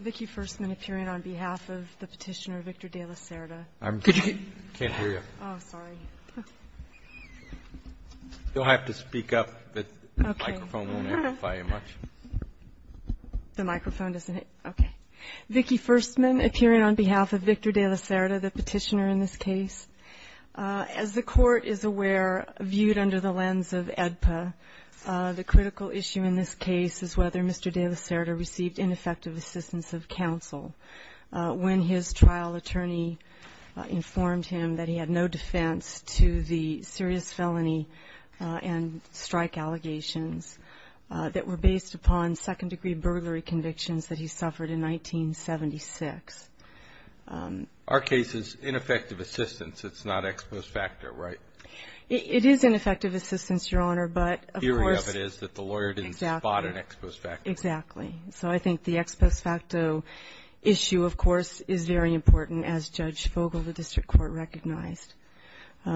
Vicki Firstman appearing on behalf of Victor De Lacerda, the petitioner in this case. As the Court is aware, viewed under the lens of AEDPA, the critical issue in this case is whether Mr. De Lacerda received ineffective assistance of counsel when his trial attorney informed him that he had no defense to the serious felony and strike allegations that were based upon second-degree burglary convictions that he suffered in 1976. Our case is ineffective assistance, it's not ex post facto, right? It is ineffective assistance, Your Honor, but of course The theory of it is that the lawyer didn't spot an ex post facto. Exactly. So I think the ex post facto issue, of course, is very important, as Judge Fogel of the District Court recognized. I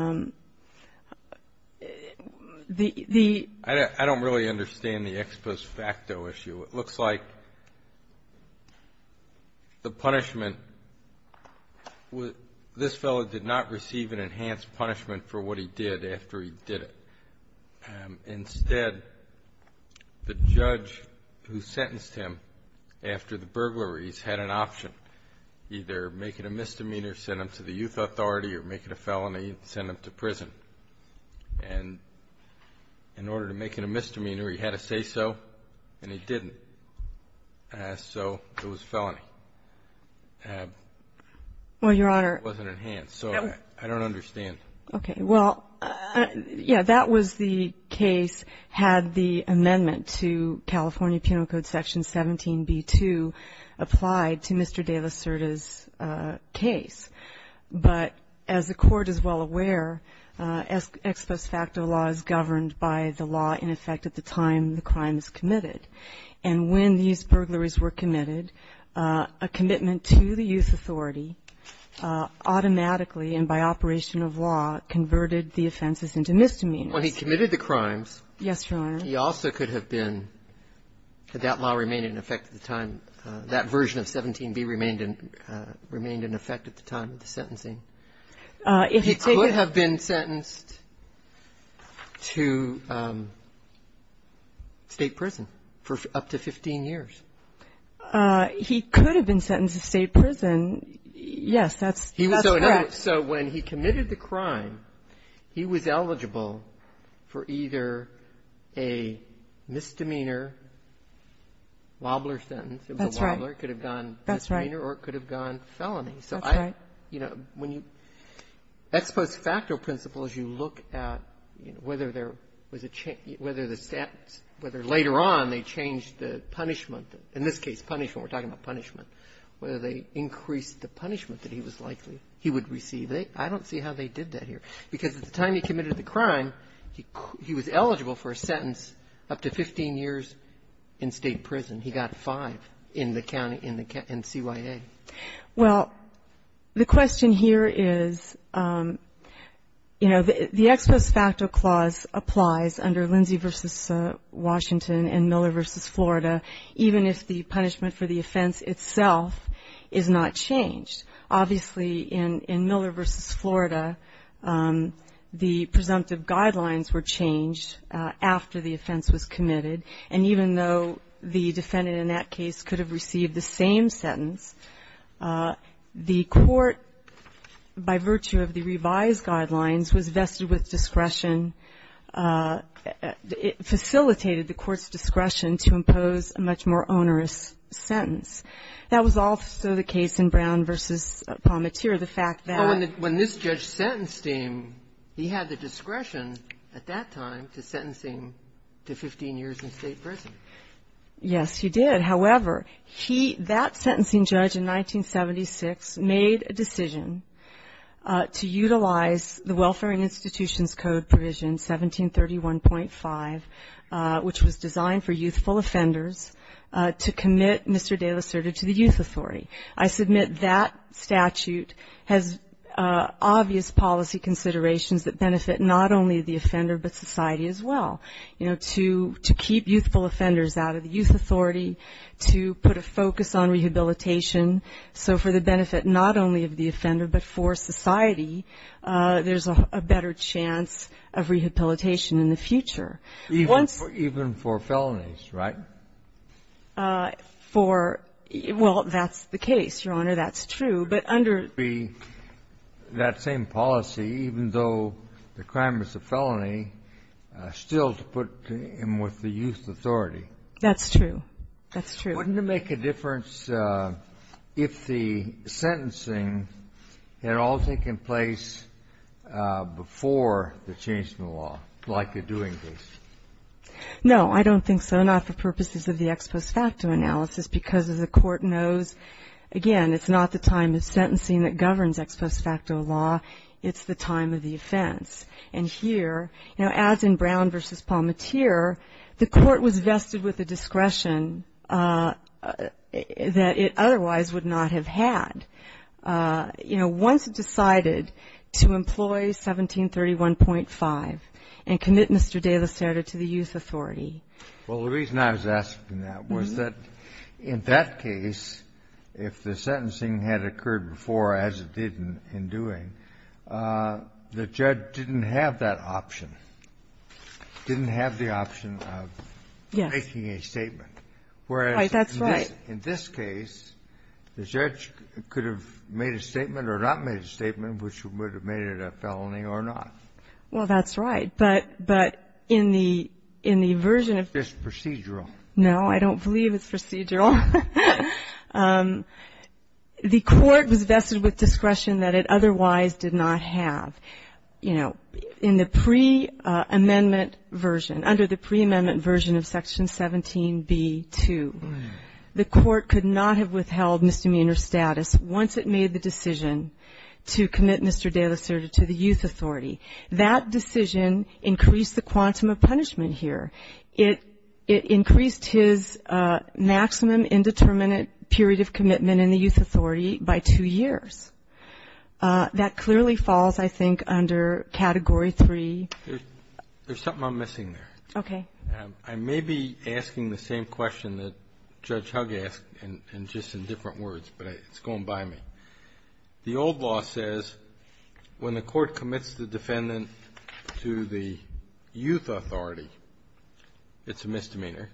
don't really understand the ex post facto issue. It looks like the punishment, this fellow did not receive an enhanced punishment for what he did after he did it. Instead, the judge who sentenced him after the burglaries had an option, either make it a misdemeanor, send him to the youth authority, or make it a felony and send him to prison. And in order to make it a misdemeanor, he had to say so, and he didn't. So it was a felony. Well, Your Honor. It wasn't enhanced, so I don't understand. Okay. Well, yeah, that was the case had the amendment to California Penal Code Section 17b2 applied to Mr. De Lacerda's case. But as the Court is well aware, ex post facto law is governed by the law in effect at the time the crime is committed. And when these burglaries were committed, a commitment to the youth authority automatically and by operation of law converted the offenses into misdemeanors. Well, he committed the crimes. Yes, Your Honor. He also could have been, had that law remained in effect at the time, that version of 17b remained in effect at the time of the sentencing, he could have been sentenced to state prison for up to 15 years. He could have been sentenced to state prison. Yes, that's correct. So when he committed the crime, he was eligible for either a misdemeanor wobbler sentence. That's right. Or it could have gone misdemeanor or it could have gone felony. That's right. So I, you know, when you ex post facto principles, you look at, you know, whether there was a change, whether the stats, whether later on they changed the punishment. In this case, punishment, we're talking about punishment. Whether they increased the punishment that he was likely he would receive. I don't see how they did that here. Because at the time he committed the crime, he was eligible for a sentence up to 15 years in state prison. He got five in the county, in CYA. Well, the question here is, you know, the ex post facto clause applies under Lindsay v. Washington and Miller v. Florida, even if the punishment for the offense itself is not changed. Obviously, in Miller v. Florida, the presumptive guidelines were changed after the offense was committed. And even though the defendant in that case could have received the same sentence, the court, by virtue of the revised guidelines, was vested with discretion. It facilitated the court's discretion to impose a much more onerous sentence. That was also the case in Brown v. Pommatier. The fact that ---- But when this judge sentenced him, he had the discretion at that time to sentence him to 15 years in state prison. Yes, he did. However, he ---- that sentencing judge in 1976 made a decision to utilize the Welfare and Institutions Code provision, 1731.5, which was designed for youthful offenders, to commit Mr. De La Cerda to the youth authority. I submit that statute has obvious policy considerations that benefit not only the offender but society as well, you know, to keep youthful offenders out of the youth authority, to put a focus on rehabilitation. So for the benefit not only of the offender but for society, there's a better chance of rehabilitation in the future. Once ---- Even for felonies, right? For ---- well, that's the case, Your Honor. That's true. But under ---- That same policy, even though the crime was a felony, still to put him with the youth authority. That's true. That's true. Wouldn't it make a difference if the sentencing had all taken place before the change in the law, like a doing case? No, I don't think so. Not for purposes of the ex post facto analysis because, as the Court knows, again, it's not the time of sentencing that governs ex post facto law. It's the time of the offense. And here, you know, as in Brown v. Palmatier, the Court was vested with a discretion that it otherwise would not have had, you know, once it decided to employ 1731.5 and commit Mr. De La Cerda to the youth authority. Well, the reason I was asking that was that in that case, if the sentencing had occurred before as it did in doing, the judge didn't have that option, didn't have the option of making a statement. Yes. Right. That's right. Whereas in this case, the judge could have made a statement or not made a statement, which would have made it a felony or not. Well, that's right. But in the version of this procedural, no, I don't believe it's procedural. The Court was vested with discretion that it otherwise did not have. You know, in the preamendment version, under the preamendment version of Section 17b-2, the Court could not have withheld misdemeanor status once it made the decision to commit Mr. De La Cerda to the youth authority. That decision increased the quantum of punishment here. It increased his maximum indeterminate period of commitment in the youth authority by two years. That clearly falls, I think, under Category 3. There's something I'm missing there. Okay. I may be asking the same question that Judge Hugg asked and just in different words, but it's going by me. The old law says when the Court commits the defendant to the youth authority, it's a misdemeanor.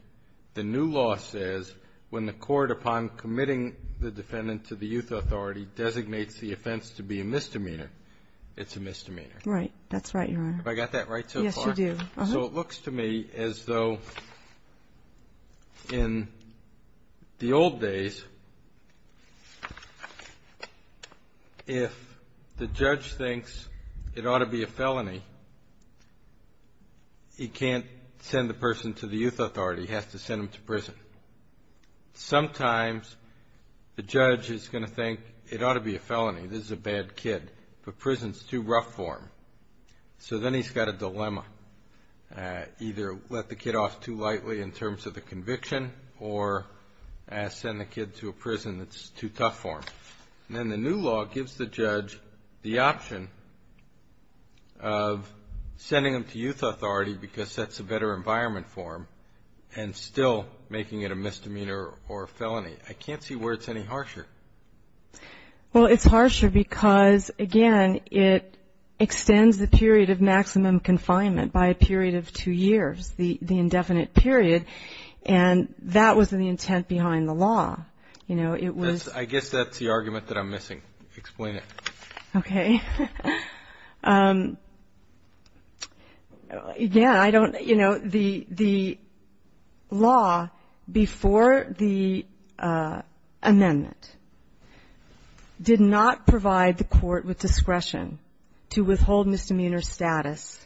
The new law says when the Court, upon committing the defendant to the youth authority, designates the offense to be a misdemeanor, it's a misdemeanor. Right. That's right, Your Honor. Have I got that right so far? Yes, you do. So it looks to me as though in the old days, if the judge thinks it ought to be a felony, he can't send the person to the youth authority. He has to send them to prison. Sometimes the judge is going to think it ought to be a felony, this is a bad kid, but prison is too rough for him. So then he's got a dilemma, either let the kid off too lightly in terms of the conviction or send the kid to a prison that's too tough for him. And then the new law gives the judge the option of sending them to youth authority because that's a better environment for them and still making it a misdemeanor or a felony. I can't see where it's any harsher. Well, it's harsher because, again, it extends the period of maximum confinement by a period of two years, the indefinite period, and that was the intent behind the law. I guess that's the argument that I'm missing. Explain it. Okay. Again, I don't, you know, the law before the amendment did not provide the court with discretion to withhold misdemeanor status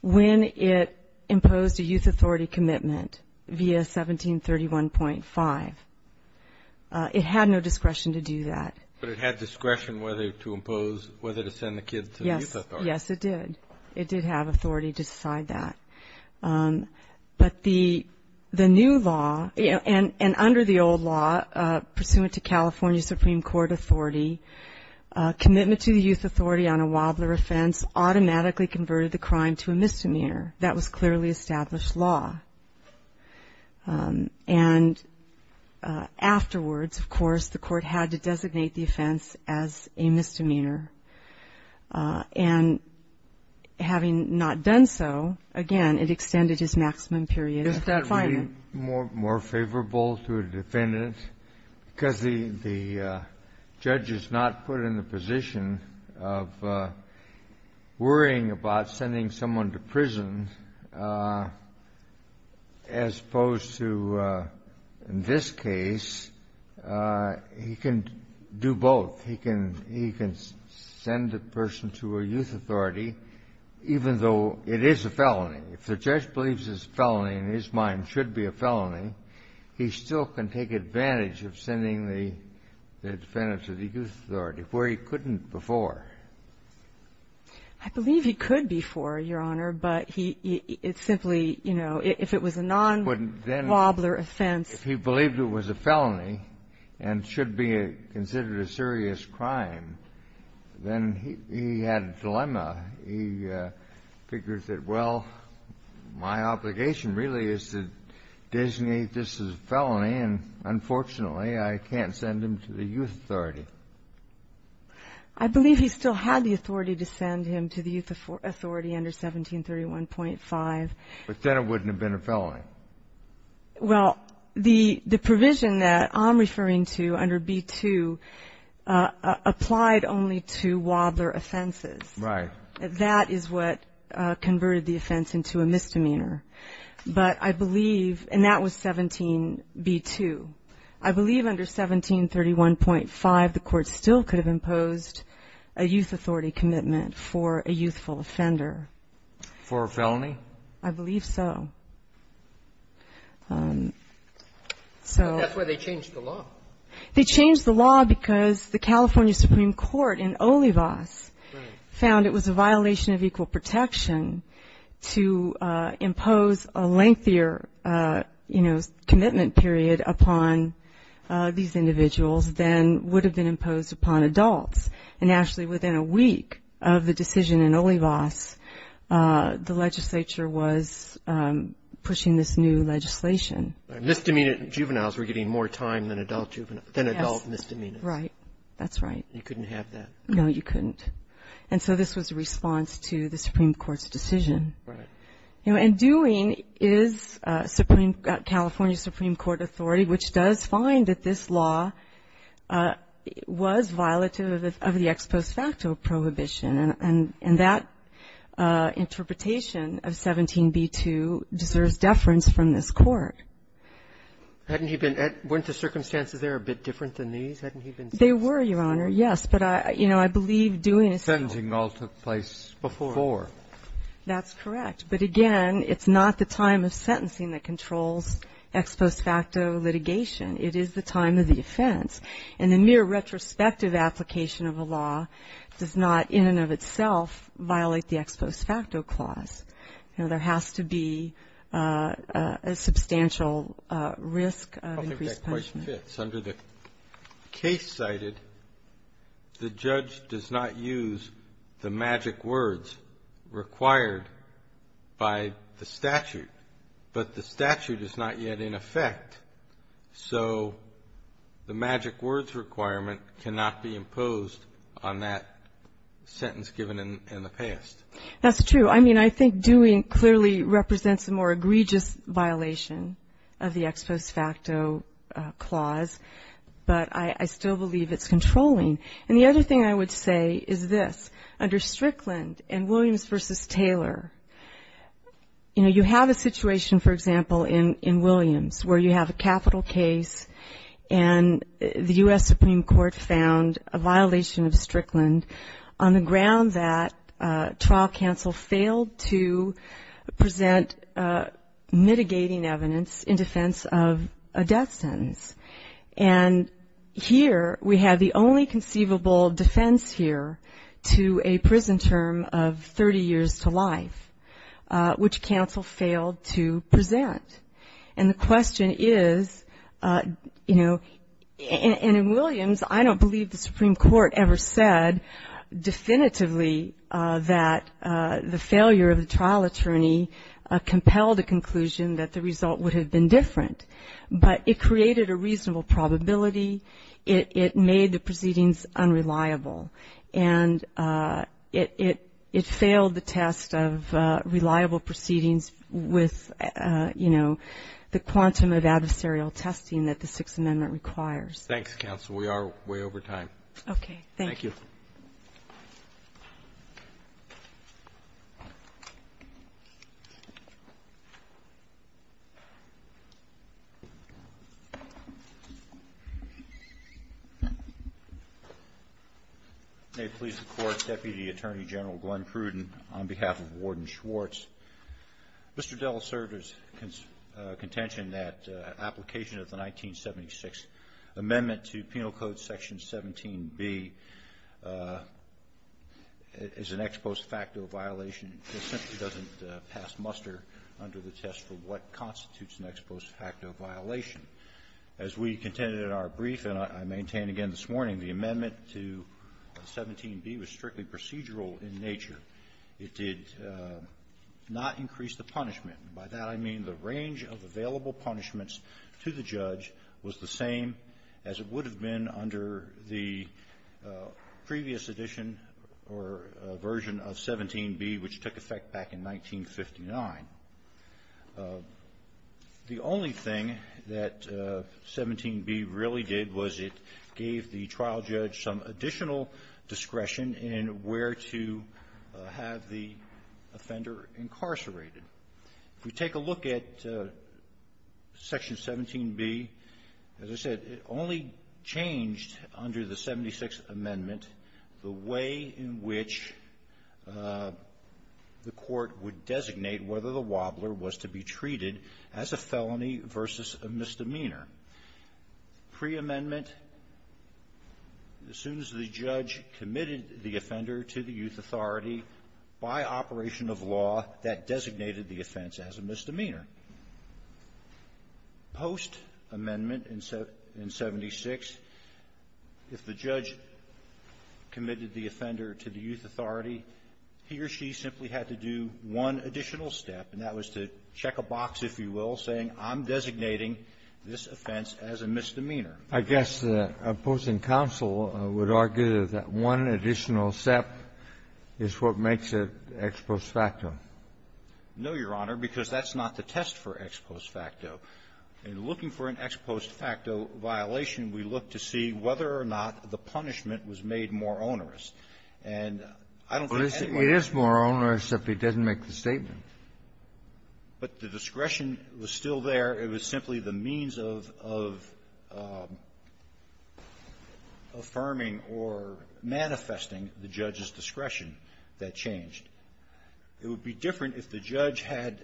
when it imposed a youth authority commitment via 1731.5. It had no discretion to do that. But it had discretion whether to impose, whether to send the kid to the youth authority. Yes, it did. It did have authority to decide that. But the new law, and under the old law, pursuant to California Supreme Court authority, commitment to the youth authority on a Wadler offense automatically converted the crime to a misdemeanor. That was clearly established law. And afterwards, of course, the court had to designate the offense as a misdemeanor. And having not done so, again, it extended his maximum period of confinement. Isn't that more favorable to a defendant? Because the judge is not put in the position of worrying about sending someone to prison, as opposed to in this case, he can do both. He can send a person to a youth authority, even though it is a felony. If the judge believes a felony in his mind should be a felony, he still can take advantage of sending the defendant to the youth authority, where he couldn't before. I believe he could before, Your Honor. But he simply, you know, if it was a non-Wadler offense. If he believed it was a felony and should be considered a serious crime, then he had a dilemma. He figures that, well, my obligation really is to designate this as a felony, and unfortunately, I can't send him to the youth authority. I believe he still had the authority to send him to the youth authority under 1731.5. But then it wouldn't have been a felony. Well, the provision that I'm referring to under B-2 applied only to Wadler offenses. Right. That is what converted the offense into a misdemeanor. But I believe, and that was 17B-2, I believe under 1731.5, the Court still could have imposed a youth authority commitment for a youthful offender. For a felony? I believe so. That's why they changed the law. They changed the law because the California Supreme Court in Olivas found it was a violation of equal protection to impose a lengthier, you know, commitment period upon these individuals than would have been imposed upon adults. And actually within a week of the decision in Olivas, the legislature was pushing this new legislation. Misdemeanor juveniles were getting more time than adult juveniles. Yes. Than adult misdemeanors. Right. That's right. You couldn't have that. No, you couldn't. And so this was a response to the Supreme Court's decision. Right. And doing is California Supreme Court authority, which does find that this law was violative of the ex post facto prohibition. And that interpretation of 17b-2 deserves deference from this Court. Hadn't he been at — weren't the circumstances there a bit different than these? Hadn't he been sentencing? They were, Your Honor, yes. But, you know, I believe doing is still — Sentencing all took place before. That's correct. But, again, it's not the time of sentencing that controls ex post facto litigation. It is the time of the offense. And the mere retrospective application of a law does not, in and of itself, violate the ex post facto clause. You know, there has to be a substantial risk of increased punishment. I don't think that question fits. Under the case cited, the judge does not use the magic words required by the statute. But the statute is not yet in effect. So the magic words requirement cannot be imposed on that sentence given in the past. That's true. I mean, I think doing clearly represents a more egregious violation of the ex post facto clause. But I still believe it's controlling. And the other thing I would say is this. Under Strickland and Williams v. Taylor, you know, you have a situation, for example, in Williams where you have a capital case and the U.S. Supreme Court found a violation of Strickland on the ground that trial counsel failed to present mitigating evidence in defense of a death sentence. And here we have the only conceivable defense here to a prison term of 30 years to life, which counsel failed to present. And the question is, you know, and in Williams, I don't believe the Supreme Court ever said definitively that the failure of the trial attorney compelled a conclusion that the result would have been different. But it created a reasonable probability. It made the proceedings unreliable. And it failed the test of reliable proceedings with, you know, the quantum of adversarial testing that the Sixth Amendment requires. Thanks, counsel. We are way over time. Okay. Thank you. May it please the Court, Deputy Attorney General Glenn Pruden, on behalf of Warden Schwartz. Mr. Dell asserted his contention that application of the 1976 Amendment to Penal Code Section 17B is an ex post facto violation. It essentially doesn't pass muster under the test for what constitutes an ex post facto violation. As we contended in our brief and I maintain again this morning, the amendment to 17B was strictly procedural in nature. It did not increase the punishment. And by that I mean the range of available punishments to the judge was the same as it would have been under the previous edition or version of 17B, which took effect back in 1959. The only thing that 17B really did was it gave the trial judge some additional discretion in where to have the offender incarcerated. If we take a look at Section 17B, as I said, it only changed under the 76th Amendment the way in which the court would designate whether the wobbler was to be treated as a felony versus a misdemeanor. Pre-amendment, as soon as the judge committed the offender to the youth authority by operation of law, that designated the offense as a misdemeanor. Post-amendment in 76, if the judge committed the offender to the youth authority, he or she simply had to do one additional step, and that was to check a box, if you will, saying I'm designating this offense as a misdemeanor. I guess opposing counsel would argue that one additional step is what makes it ex post facto. No, Your Honor, because that's not the test for ex post facto. In looking for an ex post facto violation, we look to see whether or not the punishment was made more onerous. And I don't think anyone else was. Well, it is more onerous if it doesn't make the statement. But the discretion was still there. It was simply the means of affirming or manifesting the judge's discretion that changed. It would be different if the judge had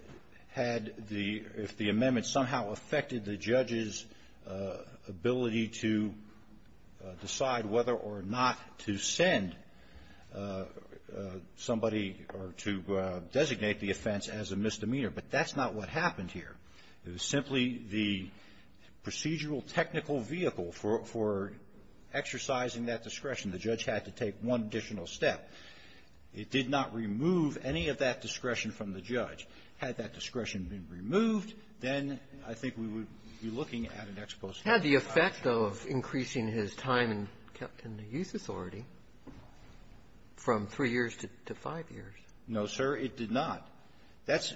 had the ‑‑ if the amendment somehow affected the judge's ability to decide whether or not to send somebody or to designate the offense as a misdemeanor, but that's not what happened here. It was simply the procedural technical vehicle for exercising that discretion. The judge had to take one additional step. It did not remove any of that discretion from the judge. Had that discretion been removed, then I think we would be looking at an ex post facto violation. Had the effect of increasing his time in the youth authority from three years to five years. No, sir, it did not. That's ‑‑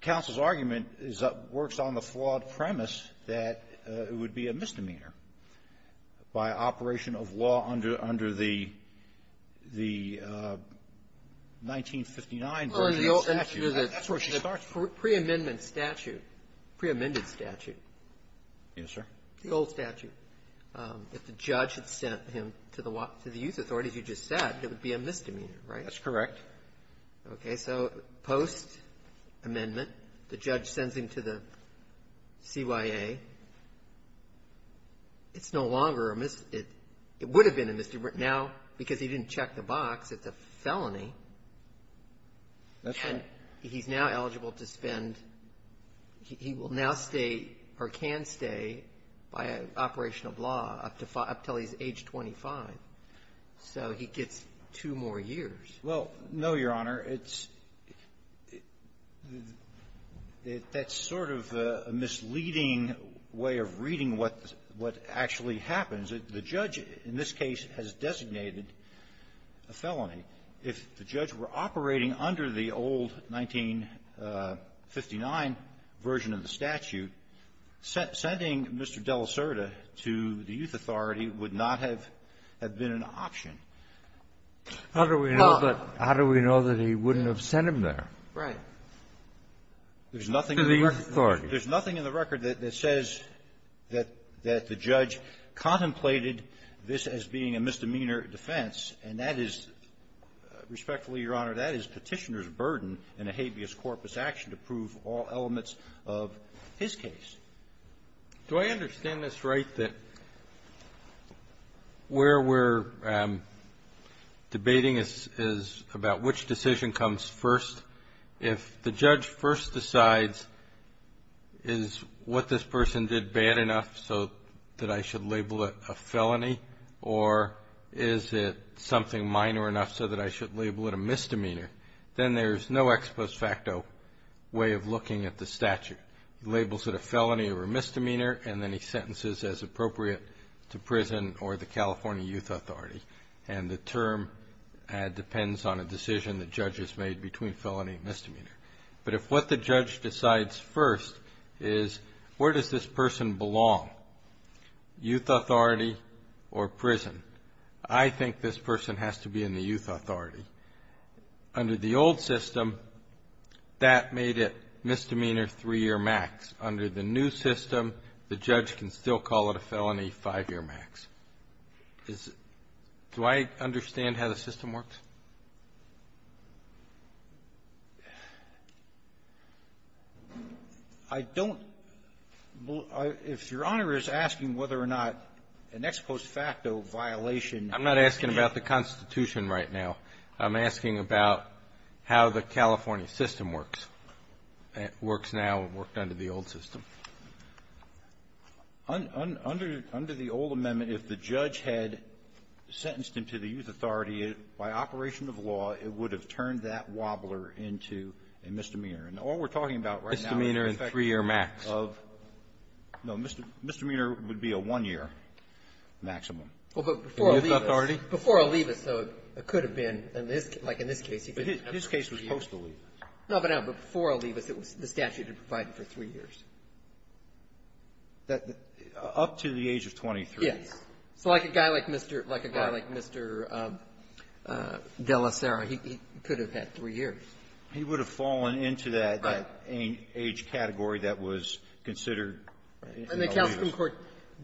counsel's argument is that works on the flawed premise that it would be a misdemeanor by operation of law under the ‑‑ the 1959 version of the statute. That's where she starts from. The preamendment statute, preamended statute. Yes, sir. The old statute. If the judge had sent him to the youth authority, as you just said, it would be a misdemeanor, right? That's correct. Okay. So post‑amendment, the judge sends him to the CYA. It's no longer a misdemeanor. It would have been a misdemeanor. Now, because he didn't check the box, it's a felony. That's right. And he's now eligible to spend ‑‑ he will now stay or can stay by operation of law up until he's age 25. So he gets two more years. Well, no, Your Honor. It's ‑‑ that's sort of a misleading way of reading what actually happens. The judge in this case has designated a felony. If the judge were operating under the old 1959 version of the statute, sending Mr. Della Certa to the youth authority would not have been an option. How do we know that he wouldn't have sent him there? Right. To the youth authority. There's nothing in the record that says that the judge contemplated this as being a misdemeanor defense, and that is, respectfully, Your Honor, that is Petitioner's burden in a habeas corpus action to prove all elements of his case. Do I understand this right, that where we're debating is about which decision comes first? If the judge first decides, is what this person did bad enough so that I should label it a felony, or is it something minor enough so that I should label it a misdemeanor, then there's no ex post facto way of looking at the statute. He labels it a felony or a misdemeanor, and then he sentences as appropriate to prison or the California youth authority. And the term depends on a decision the judge has made between felony and misdemeanor. But if what the judge decides first is where does this person belong, youth authority or prison, I think this person has to be in the youth authority. Under the old system, that made it misdemeanor three-year max. Under the new system, the judge can still call it a felony five-year max. Is the – do I understand how the system works? I don't. If Your Honor is asking whether or not an ex post facto violation – I'm not asking about the Constitution right now. I'm asking about how the California system works. It works now and worked under the old system. Under the old amendment, if the judge had sentenced him to the youth authority, by operation of law, it would have turned that wobbler into a misdemeanor. And all we're talking about right now is the effect of – Misdemeanor in three-year max. No, misdemeanor would be a one-year maximum. Well, but before Olivas – Youth authority? Before Olivas, though, it could have been in this – like in this case. This case was post Olivas. No, but before Olivas, it was – the statute had provided for three years. That – up to the age of 23. Yes. So like a guy like Mr. – like a guy like Mr. de la Sera, he could have had three years. He would have fallen into that age category that was considered in Olivas. So the Supreme Court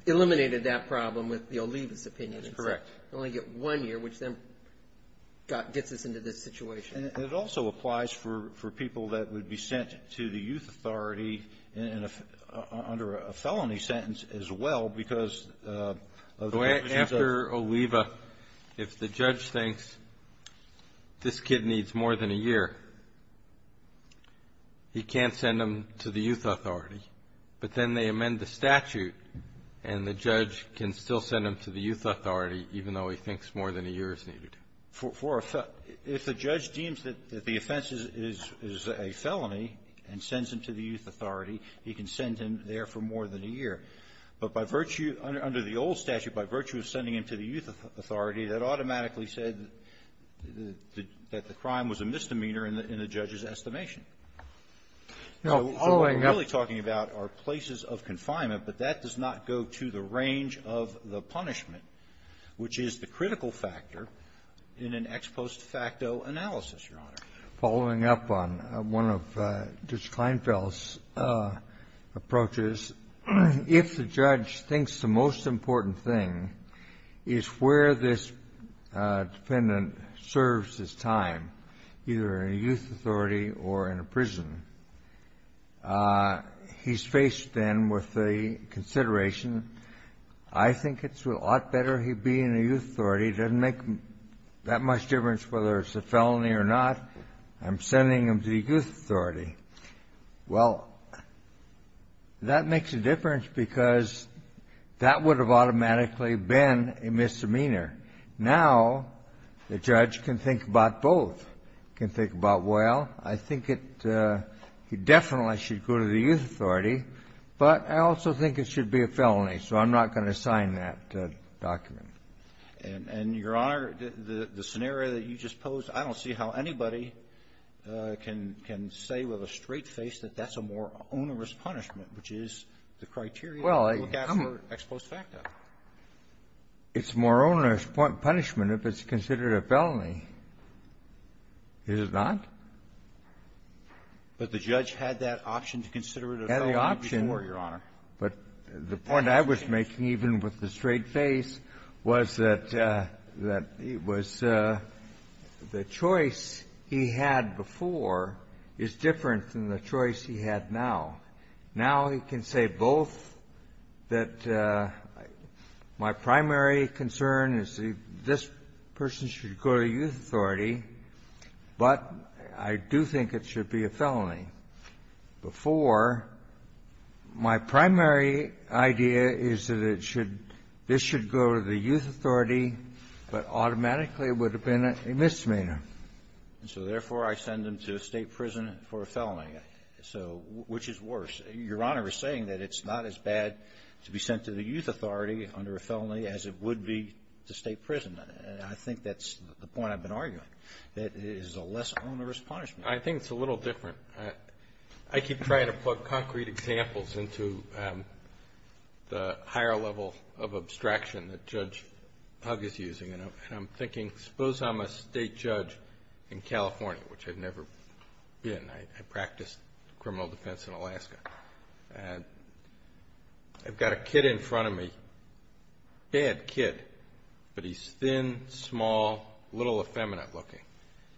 eliminated that problem with the Olivas opinion. That's correct. You only get one year, which then gets us into this situation. And it also applies for people that would be sent to the youth authority under a felony sentence as well, because of the conditions of – After Oliva, if the judge thinks this kid needs more than a year, he can't send him to the youth authority, but then they amend the statute and the judge can still send him to the youth authority even though he thinks more than a year is needed. For a – if the judge deems that the offense is a felony and sends him to the youth authority, he can send him there for more than a year. But by virtue – under the old statute, by virtue of sending him to the youth authority, that automatically said that the – that the crime was a misdemeanor in the judge's estimation. So what we're really talking about are places of confinement, but that does not go to the range of the punishment, which is the critical factor in an ex post facto analysis, Your Honor. Following up on one of Judge Kleinfeld's approaches, if the judge thinks the most dependent serves his time either in a youth authority or in a prison, he's faced then with the consideration, I think it's a lot better he be in a youth authority. It doesn't make that much difference whether it's a felony or not. I'm sending him to the youth authority. Well, that makes a difference because that would have automatically been a misdemeanor. Now the judge can think about both, can think about, well, I think it – he definitely should go to the youth authority, but I also think it should be a felony, so I'm not going to sign that document. And, Your Honor, the scenario that you just posed, I don't see how anybody can – can say with a straight face that that's a more onerous punishment, which is the criteria we look at for ex post facto. It's more onerous punishment if it's considered a felony. Is it not? But the judge had that option to consider it a felony before, Your Honor. Had the option. But the point I was making, even with a straight face, was that it was – the choice he had before is different than the choice he had now. Now he can say both, that my primary concern is that this person should go to the youth authority, but I do think it should be a felony. Before, my primary idea is that it should – this should go to the youth authority, but automatically would have been a misdemeanor. And so, therefore, I send him to a state prison for a felony. So, which is worse? Your Honor is saying that it's not as bad to be sent to the youth authority under a felony as it would be to state prison. And I think that's the point I've been arguing, that it is a less onerous punishment. I think it's a little different. I keep trying to plug concrete examples into the higher level of abstraction that Judge Pug is using. And I'm thinking, suppose I'm a state judge in California, which I've never been. I practiced criminal defense in Alaska. I've got a kid in front of me, bad kid, but he's thin, small, little effeminate looking.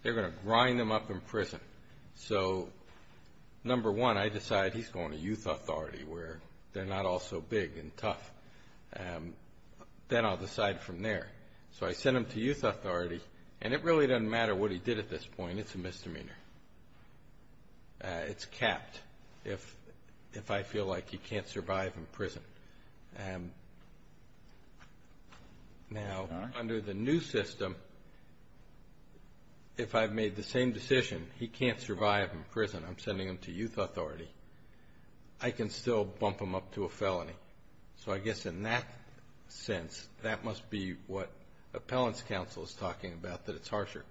They're going to grind him up in prison. So, number one, I decide he's going to youth authority where they're not all so big and tough. Then I'll decide from there. So, I send him to youth authority, and it really doesn't matter what he did at this point. It's a misdemeanor. It's capped if I feel like he can't survive in prison. Now, under the new system, if I've made the same decision, he can't survive in prison, I'm sending him to youth authority, I can still bump him up to a felony. So, I guess in that sense, that must be what appellant's counsel is talking about, that it's harsher.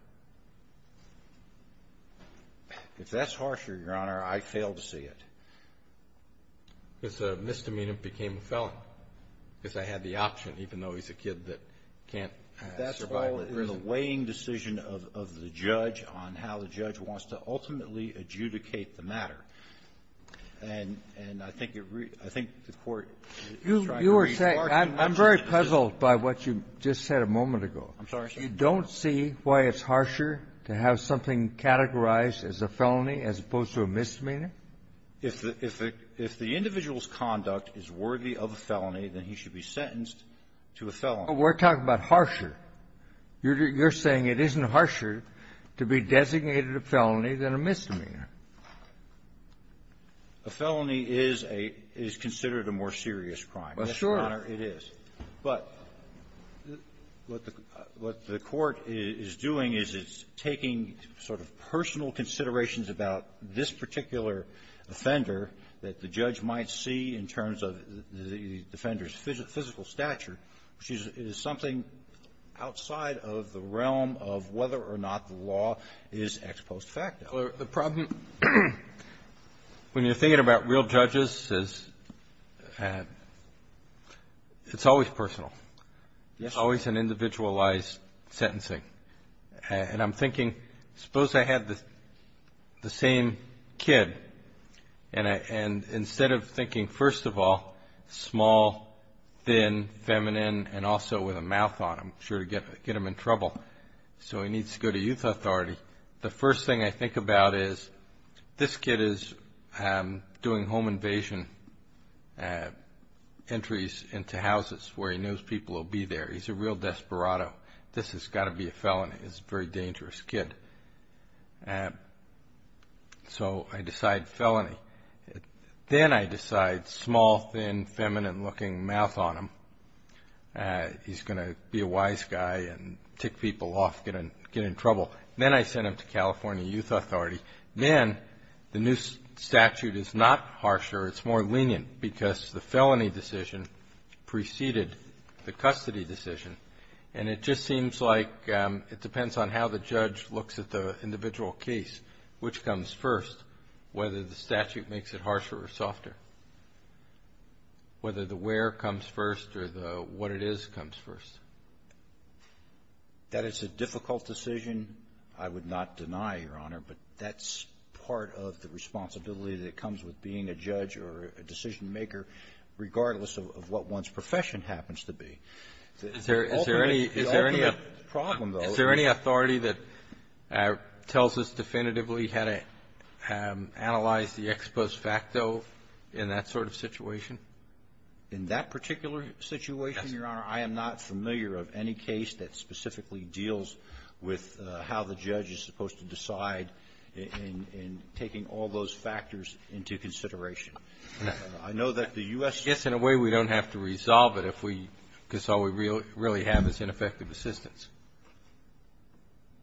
If that's harsher, Your Honor, I fail to see it. It's a misdemeanor became a felon, because I had the option, even though he's a kid that can't survive in prison. That's all in the weighing decision of the judge on how the judge wants to ultimately adjudicate the matter. And I think the Court is trying to read the larger picture of this. Kennedy. I'm very puzzled by what you just said a moment ago. Carvin. I'm sorry, sir. Kennedy. You don't see why it's harsher to have something categorized as a felony as opposed to a misdemeanor? Carvin. If the individual's conduct is worthy of a felony, then he should be sentenced to a felony. Kennedy. Well, we're talking about harsher. You're saying it isn't harsher to be designated a felony than a misdemeanor. Carvin. A felony is a — is considered a more serious crime. Kennedy. Well, sure. Carvin. Yes, Your Honor, it is. But what the Court is doing is it's taking sort of personal considerations about this particular offender that the judge might see in terms of the defender's physical stature, which is something outside of the realm of whether or not the law is ex post facto. Kennedy. Well, the problem, when you're thinking about real judges, is it's always personal. It's always an individualized sentencing. And I'm thinking, suppose I had the same kid, and I — and instead of thinking, first of all, small, thin, feminine, and also with a mouth on him, sure to get him in trouble. So he needs to go to youth authority. The first thing I think about is, this kid is doing home invasion entries into houses where he knows people will be there. He's a real desperado. This has got to be a felony. He's a very dangerous kid. So I decide felony. Then I decide small, thin, feminine-looking, mouth on him. He's going to be a wise guy and tick people off, get in trouble. Then I send him to California Youth Authority. Then the new statute is not harsher. It's more lenient because the felony decision preceded the custody decision. And it just seems like it depends on how the judge looks at the individual case, which comes first, whether the statute makes it harsher or softer, whether the where comes first or the what it is comes first. That it's a difficult decision, I would not deny, Your Honor, but that's part of the responsibility that comes with being a judge or a decision-maker, regardless of what one's profession happens to be. Is there any — Ultimately, the ultimate problem, though — It tells us definitively how to analyze the ex post facto in that sort of situation. In that particular situation, Your Honor, I am not familiar of any case that specifically deals with how the judge is supposed to decide in taking all those factors into consideration. I know that the U.S. — I guess, in a way, we don't have to resolve it if we — because all we really have is ineffective assistance.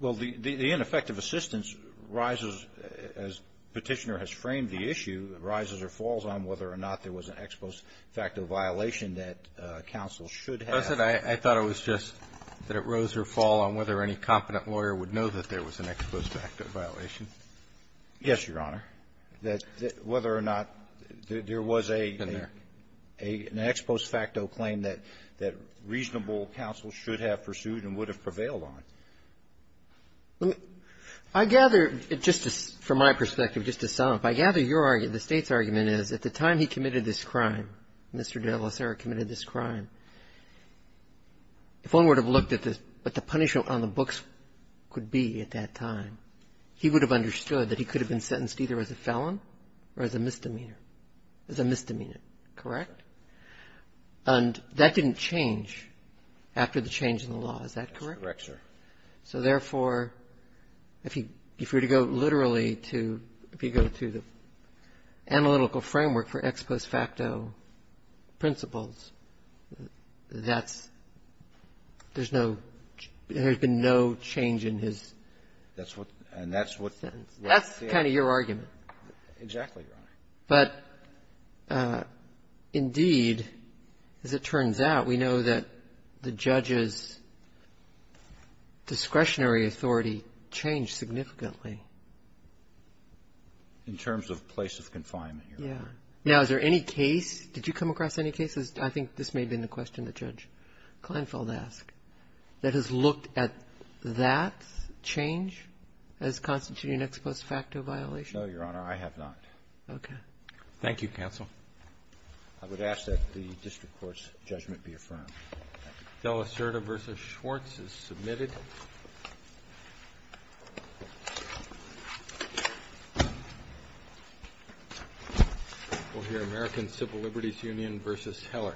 Well, the ineffective assistance rises, as Petitioner has framed the issue, it rises or falls on whether or not there was an ex post facto violation that counsel should have. Wasn't I — I thought it was just that it rose or fall on whether any competent lawyer would know that there was an ex post facto violation. Yes, Your Honor. That whether or not there was a — Been there. There wasn't an ex post facto claim that reasonable counsel should have pursued and would have prevailed on. I gather, just from my perspective, just to sum up, I gather your — the State's argument is at the time he committed this crime, Mr. de la Sera committed this crime, if one would have looked at the — what the punishment on the books could be at that time, he would have understood that he could have been sentenced either as a felon or as a misdemeanor, as a misdemeanor, correct? And that didn't change after the change in the law, is that correct? That's correct, sir. So, therefore, if you were to go literally to — if you go to the analytical framework for ex post facto principles, that's — there's no — there's been no change in his — That's what — and that's what — That's kind of your argument. Exactly, Your Honor. But, indeed, as it turns out, we know that the judge's discretionary authority changed significantly. In terms of place of confinement, Your Honor. Yeah. Now, is there any case — did you come across any cases — I think this may have been the question that Judge Kleinfeld asked — that has looked at that change as constituting an ex post facto violation? No, Your Honor. I have not. Okay. Thank you, counsel. I would ask that the district court's judgment be affirmed. Della Serta v. Schwartz is submitted. We'll hear American Civil Liberties Union v. Heller.